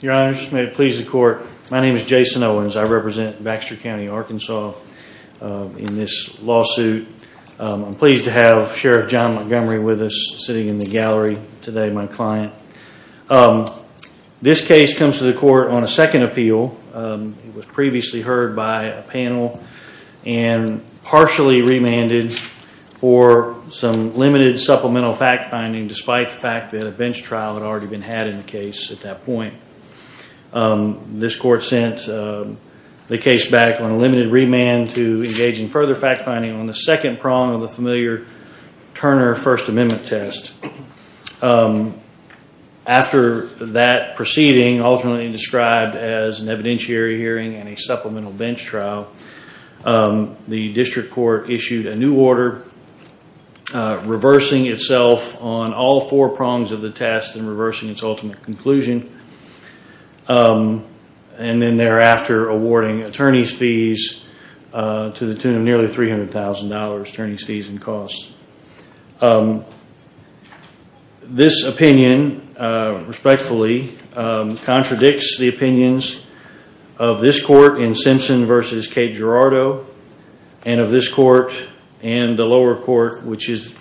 Your honors, may it please the court. My name is Jason Owens. I represent Baxter County Arkansas in this lawsuit. I'm pleased to have Sheriff John Montgomery with us sitting in the gallery today, my client. This case comes to the court on a second appeal. It was previously heard by a panel and partially remanded for some limited supplemental fact-finding despite the fact that a bench trial had already been had in the case at that point. This court sent the case back on a limited remand to engage in further fact-finding on the second prong of the familiar Turner First Amendment test. After that proceeding, ultimately described as an evidentiary hearing and a supplemental bench trial, the district court issued a new order reversing itself on all four prongs of the test and reversing its ultimate conclusion. And then thereafter awarding attorney's fees to the tune of nearly $300,000 attorney's fees and costs. This opinion, respectfully, contradicts the opinions of this court in Simpson v. Cape Girardeau and of this court and the lower court, which is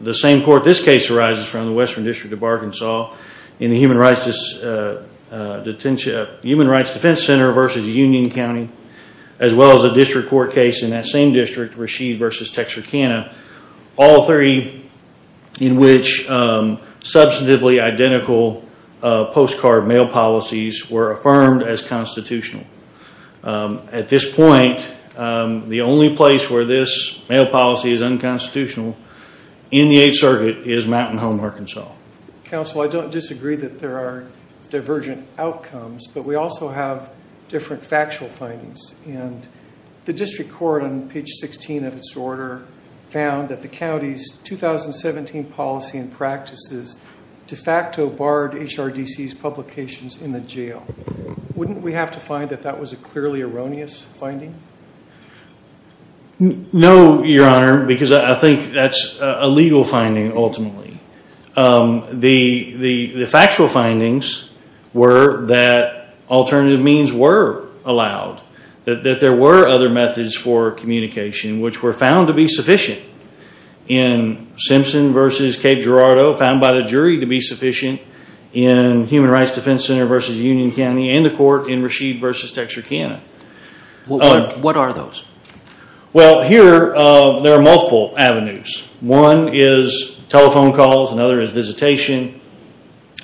the same court this case arises from, the Western District of Arkansas, in the Human Rights Defense Center v. Union County, as well as the district court case in that same district, Rasheed v. Texarkana. All three in which substantively identical postcard mail policies were affirmed as constitutional. At this point, the only place where this mail policy is unconstitutional in the Eighth Circuit is Mountain Home, Arkansas. Counsel, I don't disagree that there are divergent outcomes, but we also have different factual findings. And the district court, on page 16 of its order, found that the county's 2017 policy and practices de facto barred HRDC's publications in the jail. Wouldn't we have to find that that was a clearly erroneous finding? No, Your Honor, because I think that's a legal finding, ultimately. The factual findings were that alternative means were allowed, that there were other methods for communication, which were found to be sufficient in Simpson v. Cape Girardeau, found by the jury to be sufficient in Human Rights Defense Center v. Union County, and the court in Rasheed v. Texarkana. What are those? Well, here, there are multiple avenues. One is telephone calls. Another is visitation.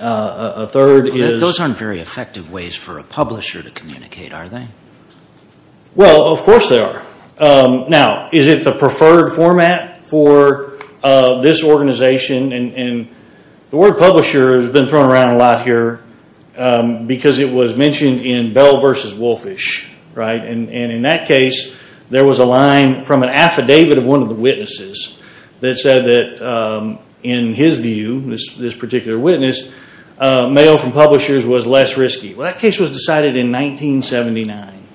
A third is... Those aren't very effective ways for a publisher to communicate, are they? Well, of course they are. Now, is it the preferred format for this organization? The word publisher has been thrown around a lot here because it was mentioned in Bell v. Wolfish, right? And in that case, there was a line from an affidavit of one of the witnesses that said that, in his view, this particular witness, mail from publishers was less risky. Well, that case was decided in 1979.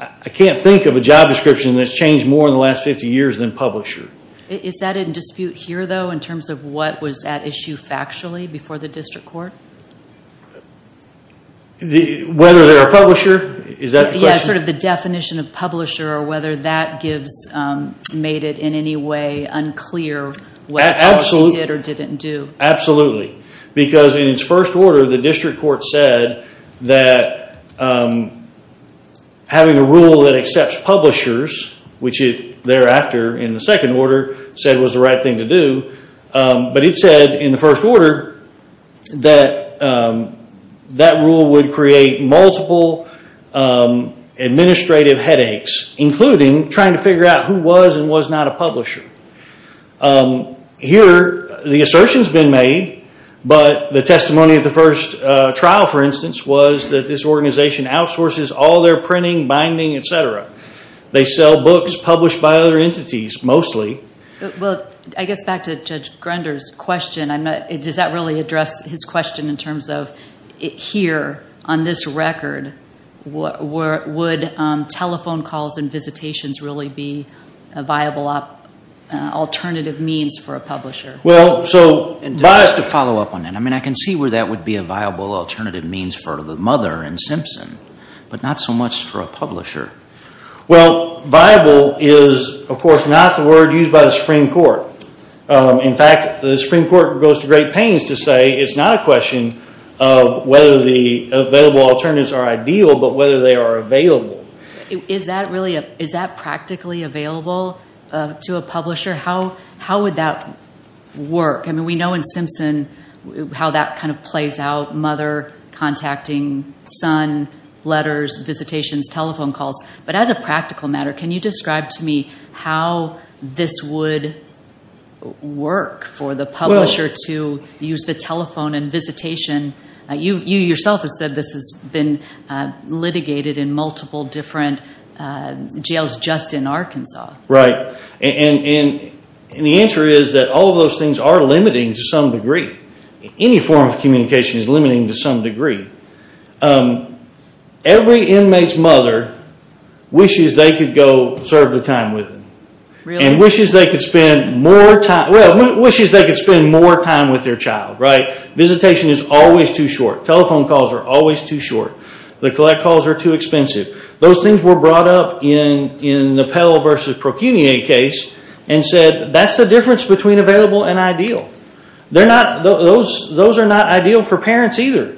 I can't think of a job description that's changed more in the last 50 years than publisher. Is that in dispute here, though, in terms of what was at issue factually before the district court? Whether they're a publisher? Is that the question? Yeah, sort of the definition of publisher, or whether that made it in any way unclear what a publisher did or didn't do. Absolutely, because in its first order, the district court said that having a rule that accepts publishers, which it thereafter, in the second order, said was the right thing to do. But it said, in the first order, that that rule would create multiple administrative headaches, including trying to figure out who was and was not a publisher. Here, the assertion's been made, but the testimony of the first trial, for instance, was that this organization outsources all their printing, binding, etc. They sell books published by other entities, mostly. Well, I guess back to Judge Grunder's question, does that really address his question in terms of, here, on this record, would telephone calls and visitations really be a viable alternative means for a publisher? Just to follow up on that, I mean, I can see where that would be a viable alternative means for the mother in Simpson, but not so much for a publisher. Well, viable is, of course, not the word used by the Supreme Court. In fact, the Supreme Court goes to great pains to say it's not a question of whether the available alternatives are ideal, but whether they are available. Is that practically available to a publisher? How would that work? I mean, we know in Simpson how that kind of plays out, mother contacting son, letters, visitations, telephone calls. But as a practical matter, can you describe to me how this would work for the publisher to use the telephone and visitation? You yourself have said this has been litigated in multiple different jails just in Arkansas. The answer is that all of those things are limiting to some degree. Any form of communication is limiting to some degree. Every inmate's mother wishes they could go serve the time with them and wishes they could spend more time with their child. Visitation is always too short. Telephone calls are always too short. The collect calls are too expensive. Those things were brought up in the Pell v. Procunier case and said that's the difference between available and ideal. Those are not ideal for parents either.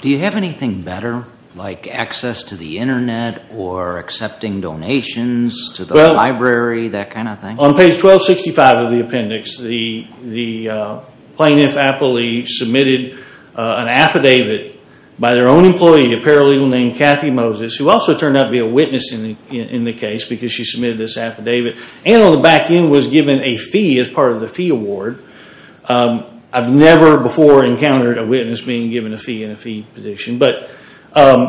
Do you have anything better, like access to the Internet or accepting donations to the library, that kind of thing? On page 1265 of the appendix, the plaintiff aptly submitted an affidavit by their own employee, a paralegal named Kathy Moses, who also turned out to be a witness in the case because she submitted this affidavit, and on the back end was given a fee as part of the fee award. I've never before encountered a witness being given a fee in a fee position.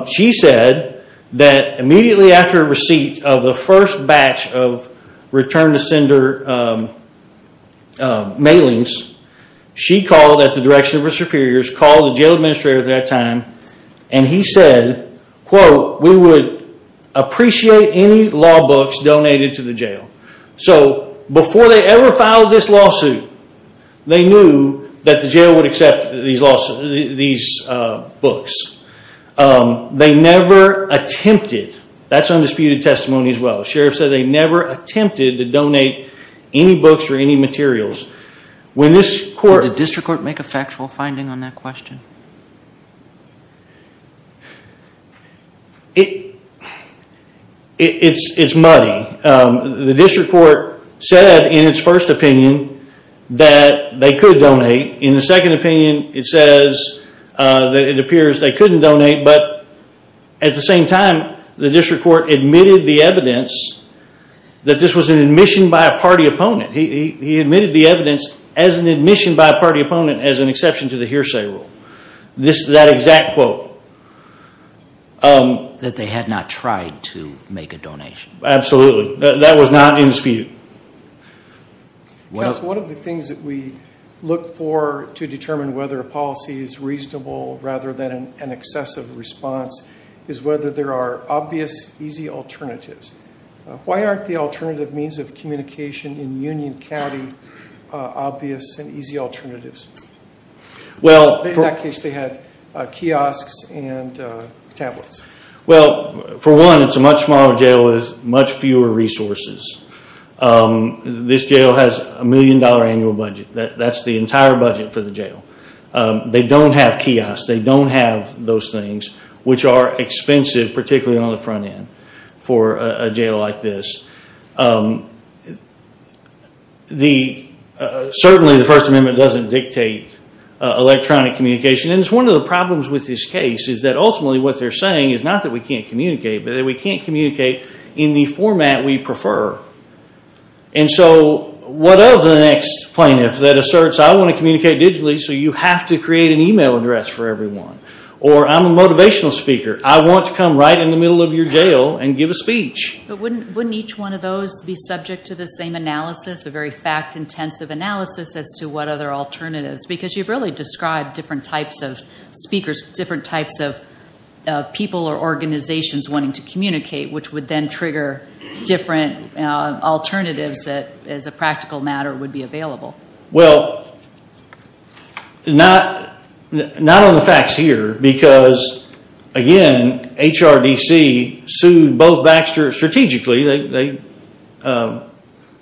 She said that immediately after receipt of the first batch of return-to-sender mailings, she called at the direction of her superiors, called the jail administrator at that time, and he said, quote, we would appreciate any law books donated to the jail. Before they ever filed this lawsuit, they knew that the jail would accept these books. They never attempted, that's undisputed testimony as well, the sheriff said they never attempted to donate any books or any materials. Did the district court make a factual finding on that question? It's muddy. The district court said in its first opinion that they could donate. In the second opinion, it says that it appears they couldn't donate, but at the same time, the district court admitted the evidence that this was an admission by a party opponent. He admitted the evidence as an admission by a party opponent as an exception to the hearsay rule. That exact quote. That they had not tried to make a donation. Absolutely. That was not in dispute. One of the things that we look for to determine whether a policy is reasonable rather than an excessive response is whether there are obvious, easy alternatives. Why aren't the alternative means of communication in Union County obvious and easy alternatives? In that case, they had kiosks and tablets. For one, it's a much smaller jail with much fewer resources. This jail has a million dollar annual budget. That's the entire budget for the jail. They don't have kiosks. They don't have those things, which are expensive, particularly on the front end for a jail like this. Certainly, the First Amendment doesn't dictate electronic communication. One of the problems with this case is that ultimately what they're saying is not that we can't communicate, but that we can't communicate in the format we prefer. What of the next plaintiff that asserts, I want to communicate digitally, so you have to create an email address for everyone? Or, I'm a motivational speaker. I want to come right in the middle of your jail and give a speech. Wouldn't each one of those be subject to the same analysis, a very fact-intensive analysis, as to what other alternatives? Because you've really described different types of speakers, different types of people or organizations wanting to communicate, which would then trigger different alternatives that, as a practical matter, would be available. Well, not on the facts here because, again, HRDC sued both Baxter strategically. They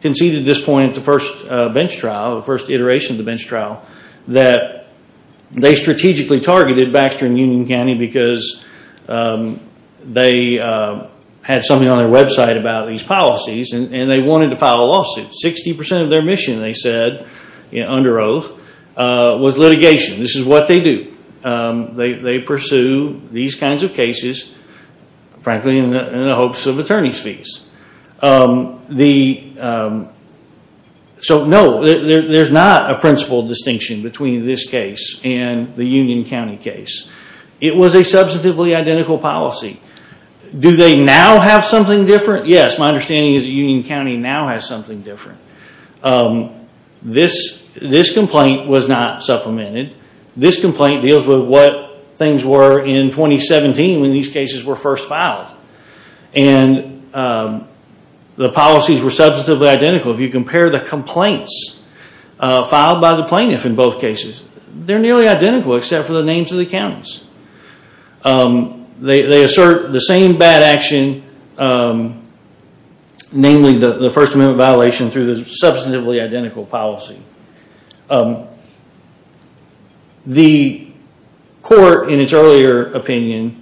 conceded at this point at the first bench trial, the first iteration of the bench trial, that they strategically targeted Baxter and Union County because they had something on their website about these policies and they wanted to file a lawsuit. Sixty percent of their mission, they said, under oath, was litigation. This is what they do. They pursue these kinds of cases, frankly, in the hopes of attorney's fees. So, no, there's not a principle distinction between this case and the Union County case. It was a substantively identical policy. Do they now have something different? Yes. My understanding is that Union County now has something different. This complaint was not supplemented. This complaint deals with what things were in 2017 when these cases were first filed. And the policies were substantively identical. If you compare the complaints filed by the plaintiff in both cases, they're nearly identical except for the names of the counties. They assert the same bad action, namely the First Amendment violation, through the substantively identical policy. The court, in its earlier opinion,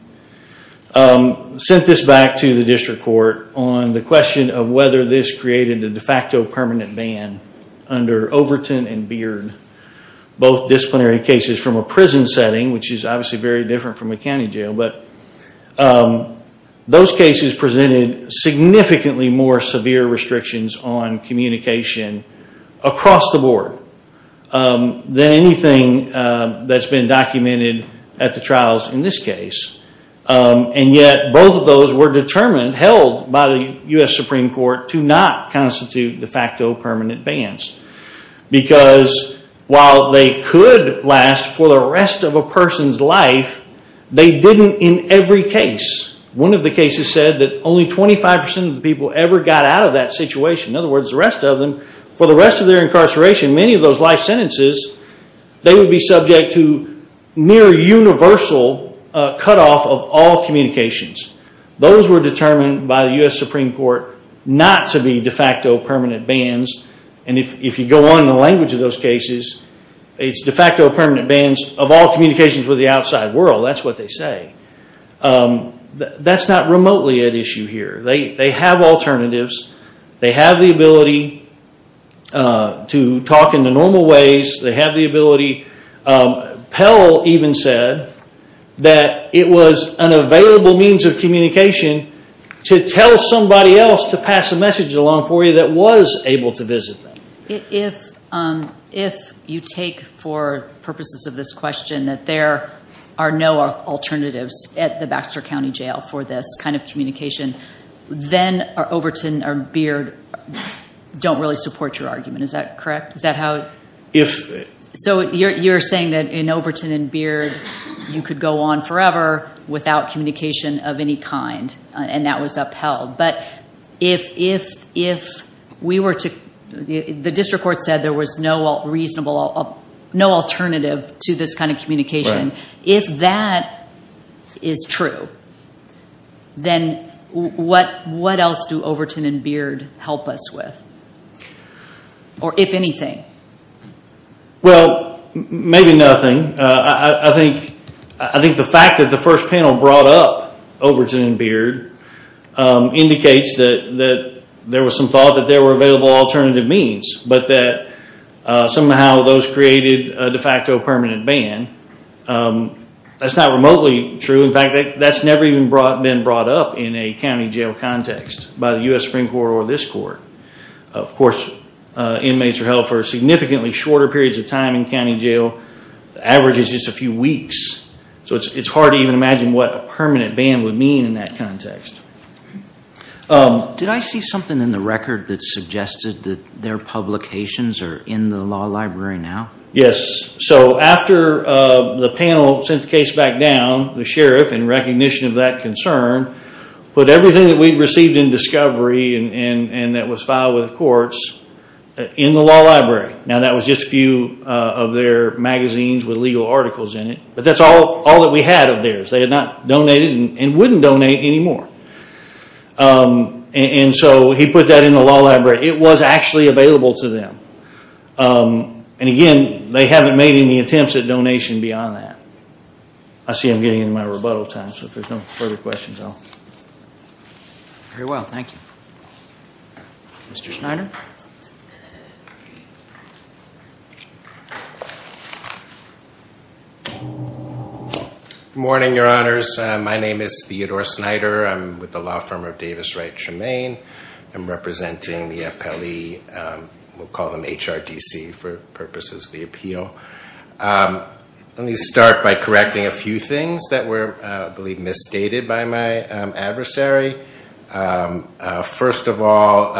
sent this back to the district court on the question of whether this created a de facto permanent ban under Overton and Beard, both disciplinary cases from a prison setting, which is obviously very different from a county jail. Those cases presented significantly more severe restrictions on communication across the board than anything that's been documented at the trials in this case. And yet, both of those were determined, held by the U.S. Supreme Court, to not constitute de facto permanent bans. Because while they could last for the rest of a person's life, they didn't in every case. One of the cases said that only 25% of the people ever got out of that situation. In other words, the rest of them, for the rest of their incarceration, many of those life sentences, they would be subject to near universal cutoff of all communications. Those were determined by the U.S. Supreme Court not to be de facto permanent bans. And if you go on in the language of those cases, it's de facto permanent bans of all communications with the outside world. That's what they say. That's not remotely at issue here. They have alternatives. They have the ability to talk in the normal ways. They have the ability. Pell even said that it was an available means of communication to tell somebody else to pass a message along for you that was able to visit them. If you take for purposes of this question that there are no alternatives at the Baxter County Jail for this kind of communication, then Overton or Beard don't really support your argument. Is that correct? So you're saying that in Overton and Beard you could go on forever without communication of any kind, and that was upheld. But the district court said there was no alternative to this kind of communication. If that is true, then what else do Overton and Beard help us with? Or if anything. Well, maybe nothing. I think the fact that the first panel brought up Overton and Beard indicates that there was some thought that there were available alternative means, but that somehow those created a de facto permanent ban. That's not remotely true. In fact, that's never even been brought up in a county jail context by the U.S. Supreme Court or this court. Of course, inmates are held for significantly shorter periods of time in county jail. The average is just a few weeks. So it's hard to even imagine what a permanent ban would mean in that context. Did I see something in the record that suggested that their publications are in the law library now? Yes. So after the panel sent the case back down, the sheriff, in recognition of that concern, put everything that we received in discovery and that was filed with the courts in the law library. Now that was just a few of their magazines with legal articles in it, but that's all that we had of theirs. They had not donated and wouldn't donate anymore. And so he put that in the law library. It was actually available to them. And, again, they haven't made any attempts at donation beyond that. I see I'm getting into my rebuttal time, so if there's no further questions, I'll... Very well. Thank you. Mr. Snyder. Good morning, Your Honors. My name is Theodore Snyder. I'm with the law firm of Davis Wright Shemane. I'm representing the appellee. We'll call them HRDC for purposes of the appeal. Let me start by correcting a few things that were, I believe, misstated by my adversary. First of all,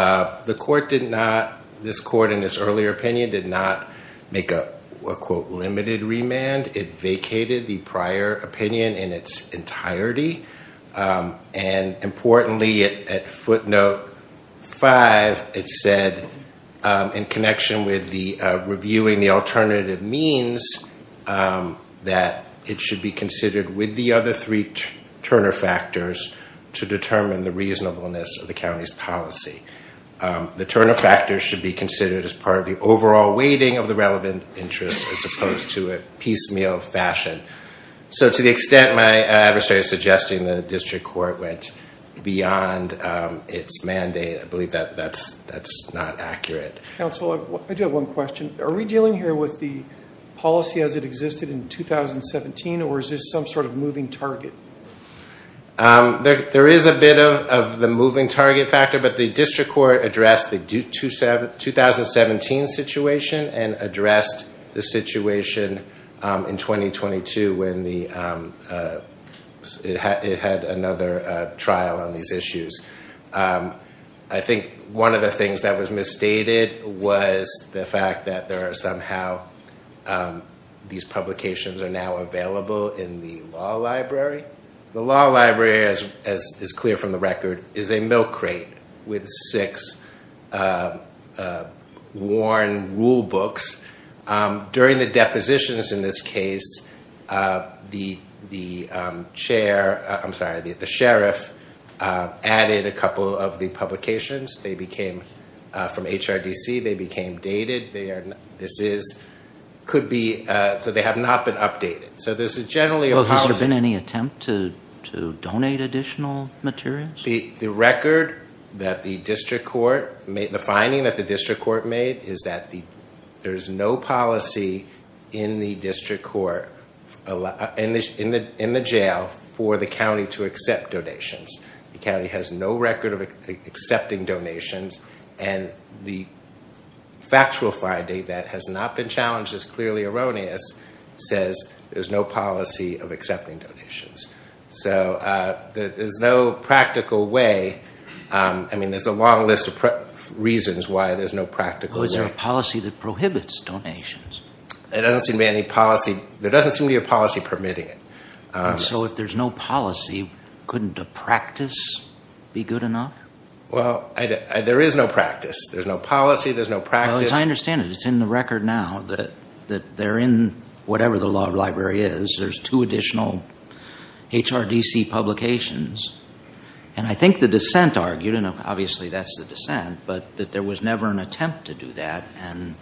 the court did not... This court, in its earlier opinion, did not make a, quote, limited remand. It vacated the prior opinion in its entirety. And, importantly, at footnote five, it said, in connection with the reviewing the alternative means, that it should be considered with the other three Turner factors to determine the reasonableness of the county's policy. The Turner factors should be considered as part of the overall weighting of the relevant interests as opposed to a piecemeal fashion. So, to the extent my adversary is suggesting the district court went beyond its mandate, I believe that that's not accurate. Counsel, I do have one question. Are we dealing here with the policy as it existed in 2017, or is this some sort of moving target? There is a bit of the moving target factor, but the district court addressed the 2017 situation and addressed the situation in 2022 when it had another trial on these issues. I think one of the things that was misstated was the fact that there are somehow... These publications are now available in the law library. The law library, as is clear from the record, is a milk crate with six worn rule books. During the depositions in this case, the sheriff added a couple of the publications. They became from HRDC. They became dated. This could be... So they have not been updated. Has there been any attempt to donate additional materials? The record that the district court... The finding that the district court made is that there is no policy in the district court, in the jail, for the county to accept donations. The county has no record of accepting donations. The factual Friday that has not been challenged is clearly erroneous. It says there is no policy of accepting donations. There is no practical way. There is a long list of reasons why there is no practical way. Is there a policy that prohibits donations? There doesn't seem to be a policy permitting it. If there is no policy, couldn't a practice be good enough? Well, there is no practice. There's no policy. There's no practice. As I understand it, it's in the record now that they're in whatever the law of the library is. There's two additional HRDC publications. And I think the dissent argued, and obviously that's the dissent, but that there was never an attempt to do that and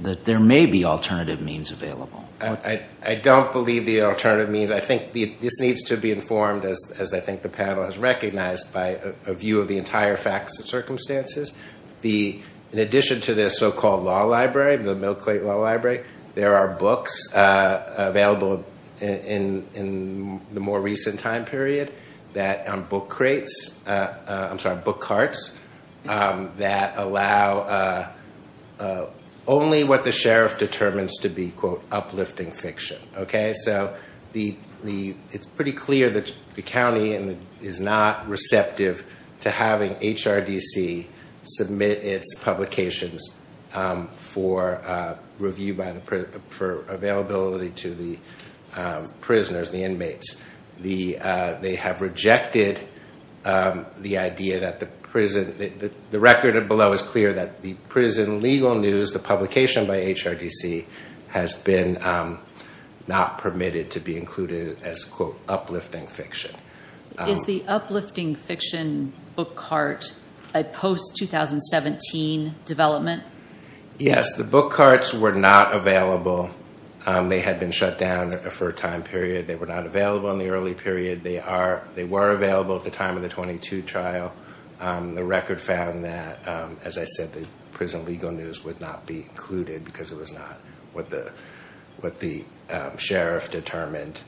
that there may be alternative means available. I don't believe the alternative means. I think this needs to be informed, as I think the panel has recognized, by a view of the entire facts and circumstances. In addition to the so-called law library, the Mill Crate Law Library, there are books available in the more recent time period, book carts, that allow only what the sheriff determines to be, quote, uplifting fiction. It's pretty clear that the county is not receptive to having HRDC submit its publications for review, for availability to the prisoners, the inmates. They have rejected the idea that the prison, the record below is clear that the prison legal news, the publication by HRDC, has been not permitted to be included as, quote, uplifting fiction. Is the uplifting fiction book cart a post-2017 development? Yes. The book carts were not available. They had been shut down for a time period. They were not available in the early period. They were available at the time of the 22 trial. The record found that, as I said, the prison legal news would not be included because it was not what the sheriff determined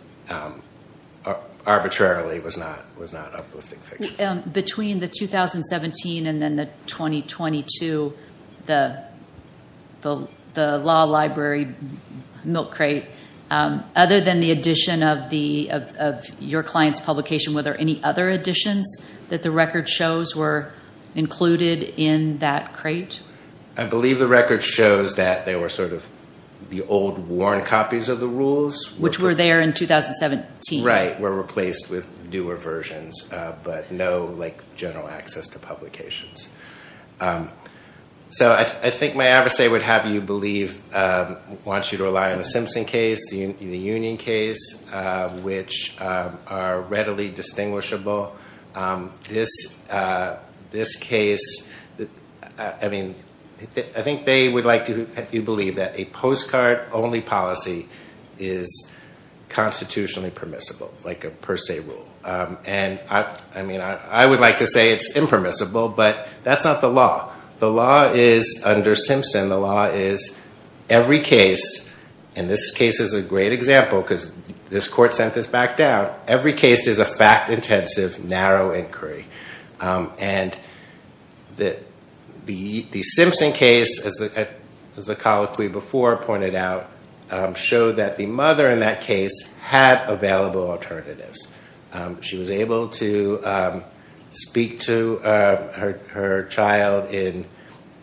arbitrarily was not uplifting fiction. Between the 2017 and then the 2022, the law library mill crate, other than the addition of your client's publication, were there any other additions that the record shows were included in that crate? I believe the record shows that they were sort of the old worn copies of the rules. Which were there in 2017. Right. They were replaced with newer versions. But no, like, general access to publications. So I think my adversary would have you believe, wants you to rely on the Simpson case, the Union case, which are readily distinguishable. This case, I mean, I think they would like you to believe that a postcard only policy is constitutionally permissible. Like a per se rule. And I would like to say it's impermissible, but that's not the law. The law is, under Simpson, the law is every case, and this case is a great example because this court sent this back down. Every case is a fact intensive, narrow inquiry. And the Simpson case, as the colloquy before pointed out, showed that the mother in that case had available alternatives. She was able to speak to her child in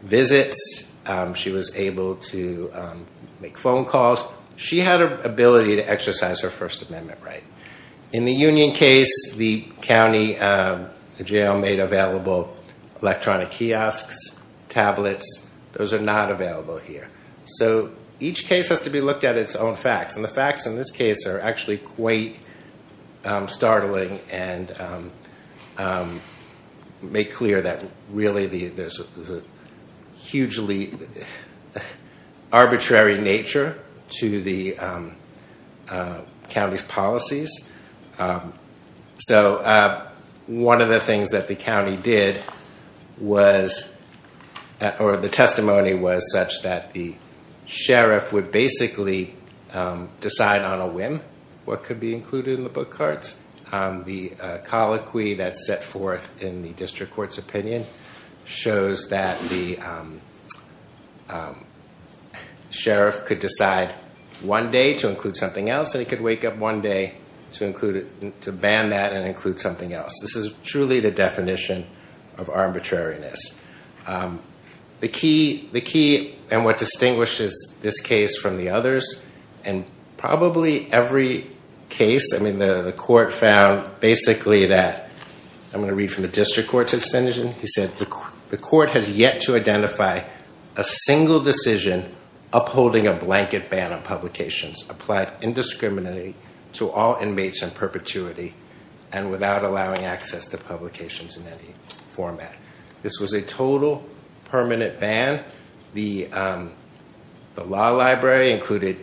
visits. She was able to make phone calls. She had an ability to exercise her First Amendment right. In the Union case, the county jail made available electronic kiosks, tablets. Those are not available here. So each case has to be looked at its own facts. And the facts in this case are actually quite startling and make clear that really there's a hugely arbitrary nature to the county's policies. So one of the things that the county did was, or the testimony was such that the sheriff would basically decide on a whim what could be included in the book cards. The colloquy that's set forth in the district court's opinion shows that the sheriff could decide one day to include something else, and he could wake up one day to ban that and include something else. This is truly the definition of arbitrariness. The key and what distinguishes this case from the others in probably every case, I mean, the court found basically that, I'm going to read from the district court's decision. He said, the court has yet to identify a single decision upholding a blanket ban on publications applied indiscriminately to all inmates in perpetuity and without allowing access to publications in any format. This was a total permanent ban. The law library included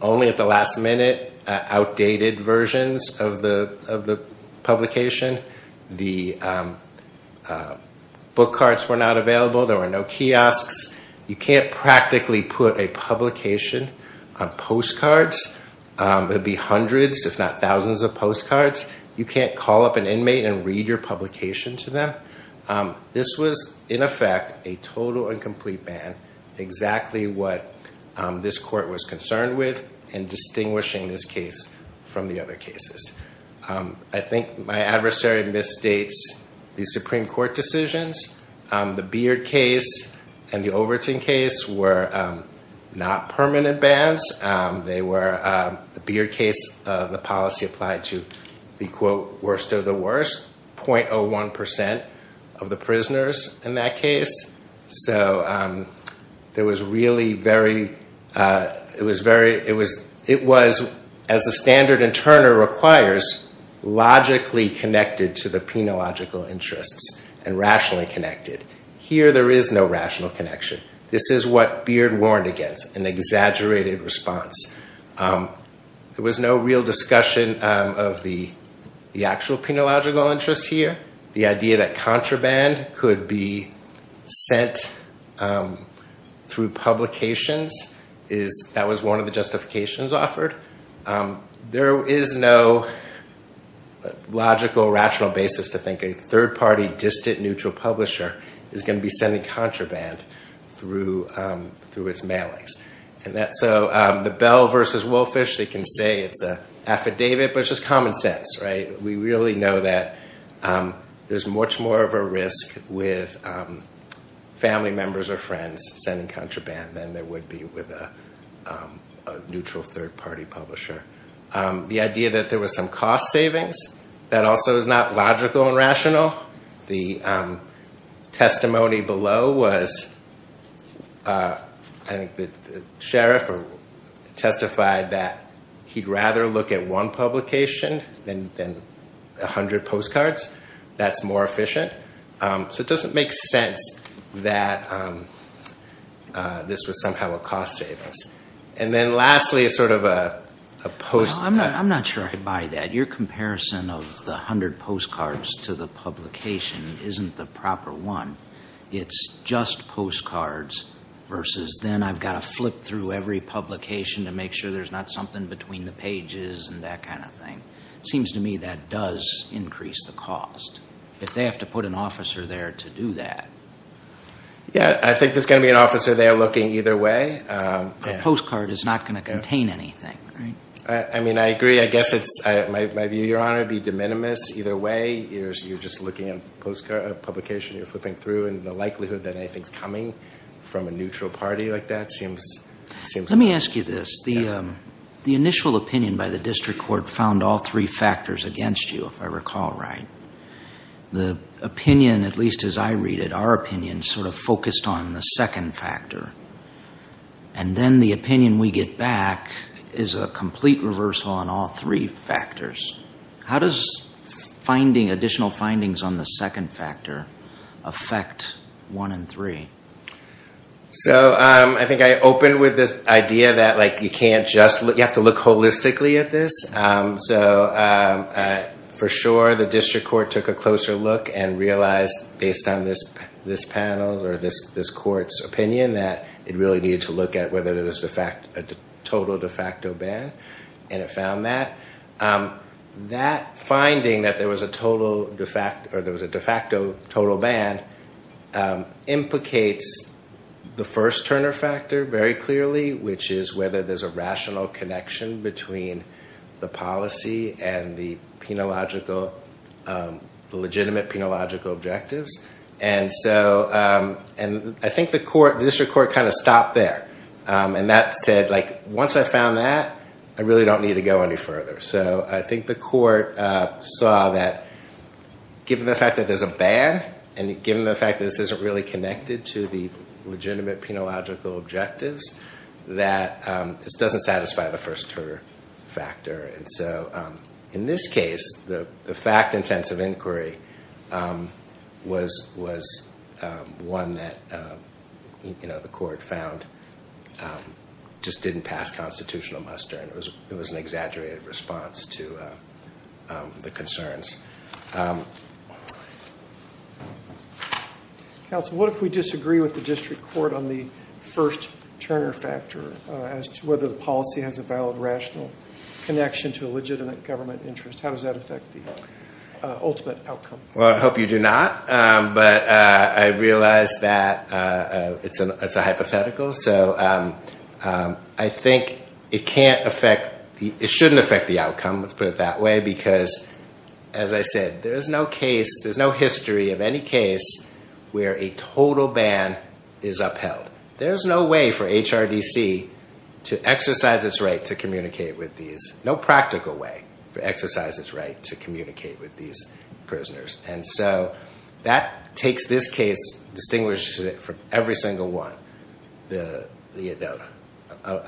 only at the last minute outdated versions of the publication. The book cards were not available. There were no kiosks. You can't practically put a publication on postcards. There'd be hundreds if not thousands of postcards. You can't call up an inmate and read your publication to them. This was, in effect, a total and complete ban, exactly what this court was concerned with and distinguishing this case from the other cases. I think my adversary misstates the Supreme Court decisions. The Beard case and the Overton case were not permanent bans. The Beard case, the policy applied to the, quote, worst of the worst, 0.01% of the prisoners in that case. So it was, as the standard in Turner requires, logically connected to the penological interests and rationally connected. Here, there is no rational connection. This is what Beard warned against, an exaggerated response. There was no real discussion of the actual penological interests here. The idea that contraband could be sent through publications, that was one of the justifications offered. There is no logical, rational basis to think a third-party, distant, neutral publisher is going to be sending contraband through its mailings. So the Bell v. Wolfish, they can say it's an affidavit, but it's just common sense. We really know that there's much more of a risk with family members or friends sending contraband than there would be with a neutral third-party publisher. The idea that there was some cost savings, that also is not logical and rational. The testimony below was, I think the sheriff testified that he'd rather look at one publication than 100 postcards. That's more efficient. So it doesn't make sense that this was somehow a cost savings. I'm not sure I'd buy that. Your comparison of the 100 postcards to the publication isn't the proper one. It's just postcards versus then I've got to flip through every publication to make sure there's not something between the pages and that kind of thing. It seems to me that does increase the cost. If they have to put an officer there to do that. Yeah, I think there's going to be an officer there looking either way. A postcard is not going to contain anything, right? I mean, I agree. I guess my view, Your Honor, would be de minimis. Either way, you're just looking at a publication. You're flipping through, and the likelihood that anything's coming from a neutral party like that seems… Let me ask you this. The initial opinion by the district court found all three factors against you, if I recall right. The opinion, at least as I read it, our opinion, sort of focused on the second factor. And then the opinion we get back is a complete reversal on all three factors. How does additional findings on the second factor affect one and three? So I think I open with this idea that you have to look holistically at this. So, for sure, the district court took a closer look and realized, based on this panel or this court's opinion, that it really needed to look at whether there was a total de facto ban. And it found that. That finding, that there was a de facto total ban, implicates the first Turner factor very clearly, which is whether there's a rational connection between the policy and the legitimate penological objectives. And I think the district court kind of stopped there. And that said, once I found that, I really don't need to go any further. So I think the court saw that, given the fact that there's a ban, and given the fact that this isn't really connected to the legitimate penological objectives, that this doesn't satisfy the first Turner factor. And so, in this case, the fact-intensive inquiry was one that the court found just didn't pass constitutional muster. It was an exaggerated response to the concerns. Counsel, what if we disagree with the district court on the first Turner factor, as to whether the policy has a valid, rational connection to a legitimate government interest? How does that affect the ultimate outcome? Well, I hope you do not. But I realize that it's a hypothetical. So I think it can't affect, it shouldn't affect the outcome, let's put it that way, because, as I said, there's no case, there's no history of any case where a total ban is upheld. There's no way for HRDC to exercise its right to communicate with these, no practical way to exercise its right to communicate with these prisoners. And so, that takes this case, distinguishes it from every single one. I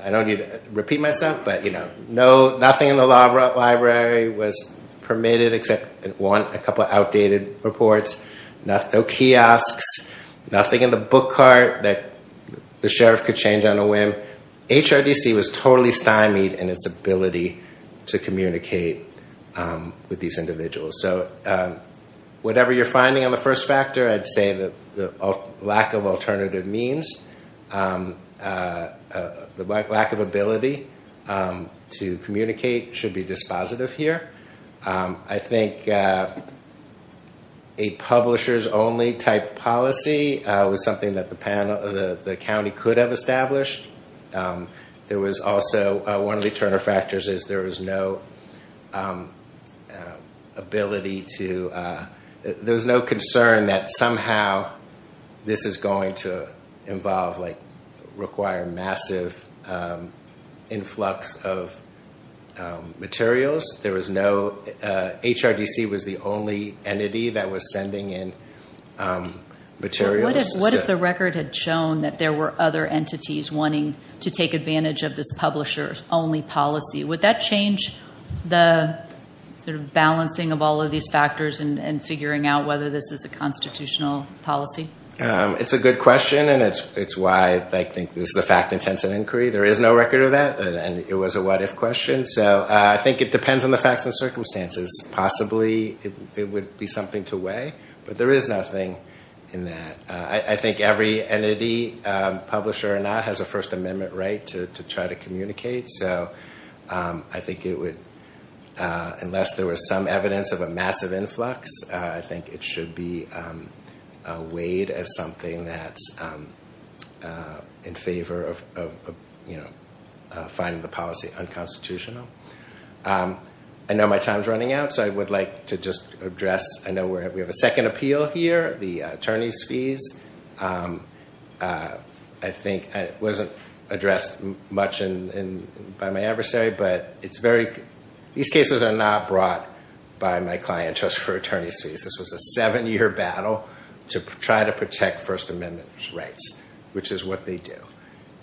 don't need to repeat myself, but nothing in the library was permitted except, one, a couple of outdated reports. No kiosks, nothing in the book cart that the sheriff could change on a whim. HRDC was totally stymied in its ability to communicate with these individuals. So, whatever you're finding on the first factor, I'd say the lack of alternative means, the lack of ability to communicate should be dispositive here. I think a publisher's only type policy was something that the county could have established. There was also, one of the Turner factors is there was no ability to, there was no concern that somehow this is going to involve, like, require massive influx of materials. There was no, HRDC was the only entity that was sending in materials. What if the record had shown that there were other entities wanting to take advantage of this publisher's only policy? Would that change the balancing of all of these factors and figuring out whether this is a constitutional policy? It's a good question, and it's why I think this is a fact-intensive inquiry. There is no record of that, and it was a what-if question. So, I think it depends on the facts and circumstances. Possibly, it would be something to weigh, but there is nothing in that. I think every entity, publisher or not, has a First Amendment right to try to communicate. So, I think it would, unless there was some evidence of a massive influx, I think it should be weighed as something that's in favor of finding the policy unconstitutional. I know my time is running out, so I would like to just address, I know we have a second appeal here, the attorney's fees. I think it wasn't addressed much by my adversary, but these cases are not brought by my client just for attorney's fees. This was a seven-year battle to try to protect First Amendment rights, which is what they do.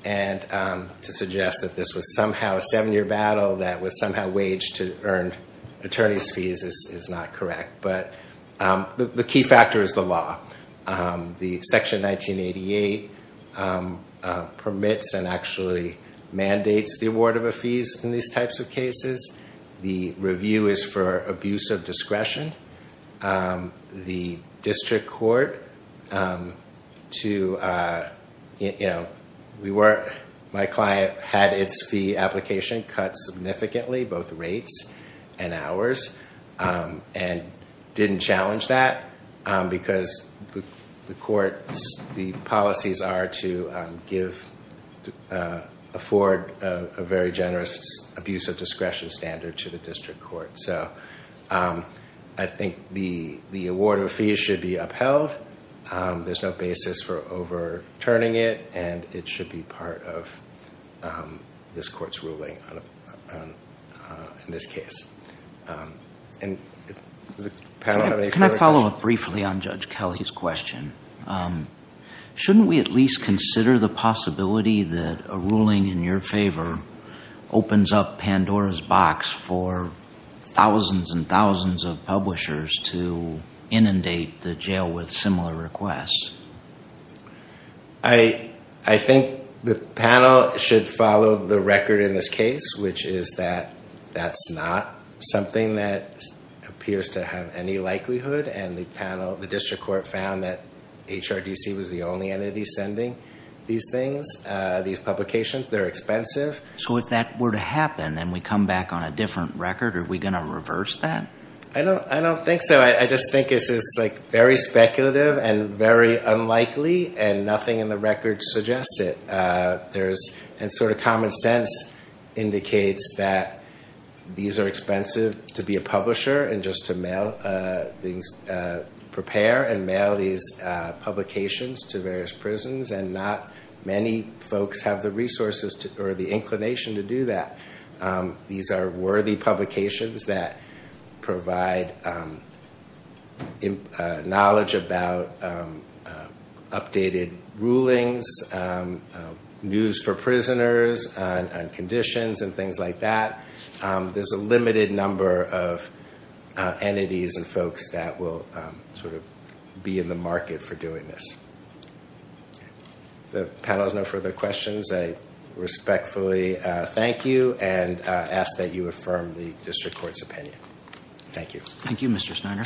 To suggest that this was somehow a seven-year battle that was somehow waged to earn attorney's fees is not correct. But the key factor is the law. Section 1988 permits and actually mandates the award of a fees in these types of cases. The review is for abuse of discretion. The district court, my client had its fee application cut significantly, both rates and hours, and didn't challenge that because the court's policies are to afford a very generous abuse of discretion standard to the district court. I think the award of fees should be upheld. There's no basis for overturning it, and it should be part of this court's ruling in this case. Can I follow up briefly on Judge Kelly's question? Shouldn't we at least consider the possibility that a ruling in your favor opens up Pandora's box for thousands and thousands of publishers to inundate the jail with similar requests? I think the panel should follow the record in this case, which is that that's not something that appears to have any likelihood. The district court found that HRDC was the only entity sending these things, these publications. They're expensive. So if that were to happen and we come back on a different record, are we going to reverse that? I don't think so. I just think it's very speculative and very unlikely, and nothing in the record suggests it. And sort of common sense indicates that these are expensive to be a publisher and just to prepare and mail these publications to various prisons, and not many folks have the resources or the inclination to do that. These are worthy publications that provide knowledge about updated rulings, news for prisoners on conditions and things like that. There's a limited number of entities and folks that will sort of be in the market for doing this. The panel has no further questions. I respectfully thank you and ask that you affirm the district court's opinion. Thank you. Thank you, Mr. Snyder.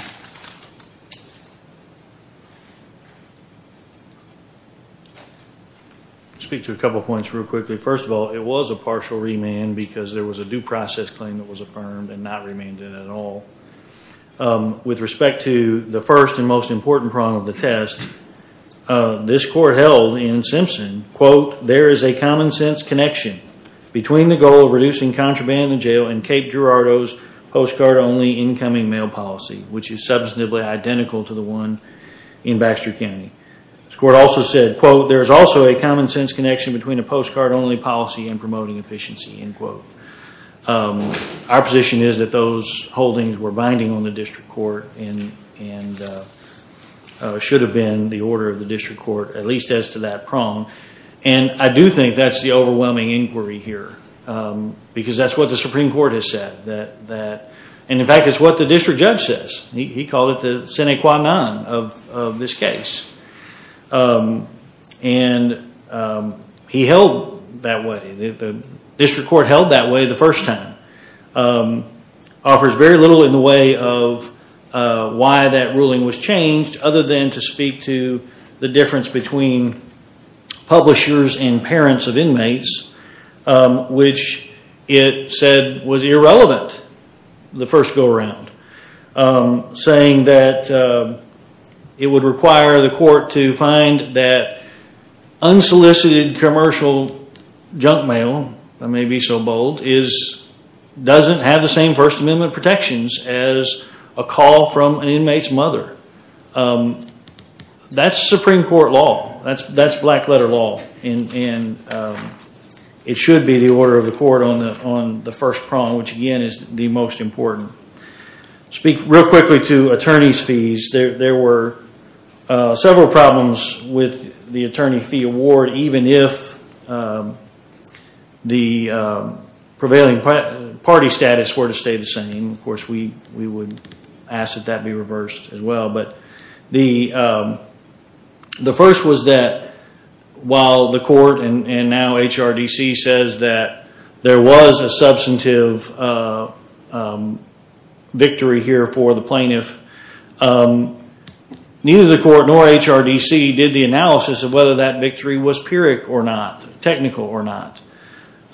I'll speak to a couple points real quickly. First of all, it was a partial remand because there was a due process claim that was affirmed and not remanded at all. With respect to the first and most important problem of the test, this court held in Simpson, quote, there is a common sense connection between the goal of reducing contraband in jail and Kate Girardo's postcard-only incoming mail policy, which is substantively identical to the one in Baxter County. This court also said, quote, there is also a common sense connection between a postcard-only policy and promoting efficiency, end quote. Our position is that those holdings were binding on the district court and should have been the order of the district court, at least as to that prong, and I do think that's the overwhelming inquiry here because that's what the Supreme Court has said. In fact, it's what the district judge says. He called it the sine qua non of this case. He held that way. The district court held that way the first time. It offers very little in the way of why that ruling was changed other than to speak to the difference between publishers and parents of inmates, which it said was irrelevant the first go-around, saying that it would require the court to find that unsolicited commercial junk mail, if I may be so bold, doesn't have the same First Amendment protections as a call from an inmate's mother. That's Supreme Court law. That's black-letter law, and it should be the order of the court on the first prong, which, again, is the most important. I'll speak real quickly to attorney's fees. There were several problems with the attorney fee award, even if the prevailing party status were to stay the same. Of course, we would ask that that be reversed as well, but the first was that while the court and now HRDC says that there was a substantive victory here for the plaintiff, neither the court nor HRDC did the analysis of whether that victory was pyrrhic or not, technical or not.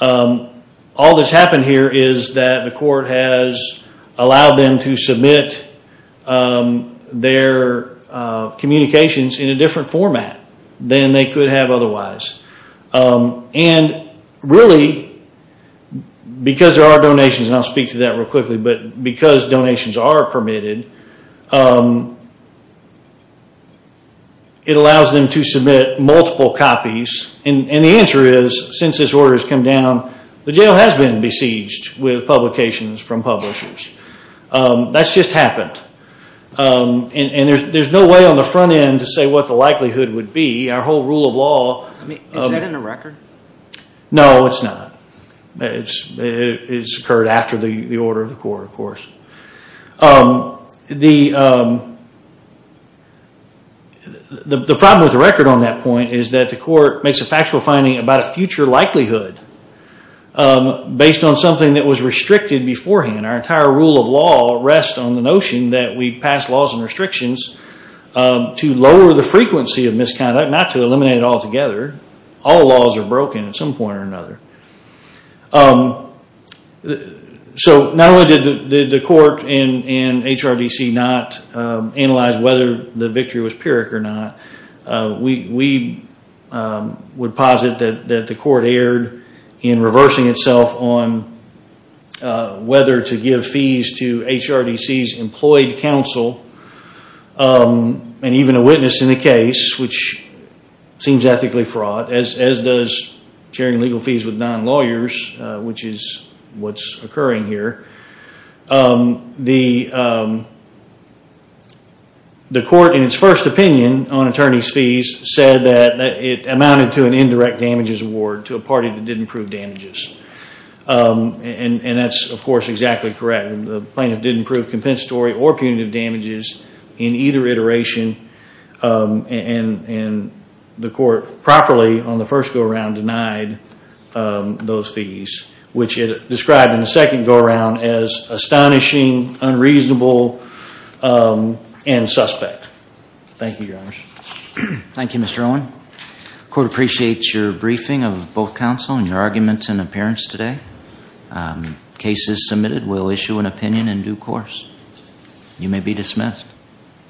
All that's happened here is that the court has allowed them to submit their communications in a different format than they could have otherwise. And really, because there are donations, and I'll speak to that real quickly, but because donations are permitted, it allows them to submit multiple copies. And the answer is, since this order has come down, the jail has been besieged with publications from publishers. That's just happened. And there's no way on the front end to say what the likelihood would be. Our whole rule of law... Is that in the record? No, it's not. It's occurred after the order of the court, of course. The problem with the record on that point is that the court makes a factual finding about a future likelihood based on something that was restricted beforehand. Our entire rule of law rests on the notion that we pass laws and restrictions to lower the frequency of misconduct, not to eliminate it altogether. All laws are broken at some point or another. So not only did the court and HRDC not analyze whether the victory was Pyrrhic or not, we would posit that the court erred in reversing itself on whether to give fees to HRDC's employed counsel and even a witness in the case, which seems ethically fraught, as does sharing legal fees with non-lawyers, which is what's occurring here. The court, in its first opinion on attorney's fees, said that it amounted to an indirect damages award to a party that didn't prove damages. And that's, of course, exactly correct. The plaintiff didn't prove compensatory or punitive damages in either iteration. And the court properly, on the first go-around, denied those fees, which it described in the second go-around as astonishing, unreasonable, and suspect. Thank you, Your Honor. Thank you, Mr. Owen. The court appreciates your briefing of both counsel and your arguments in appearance today. Cases submitted will issue an opinion in due course. You may be dismissed.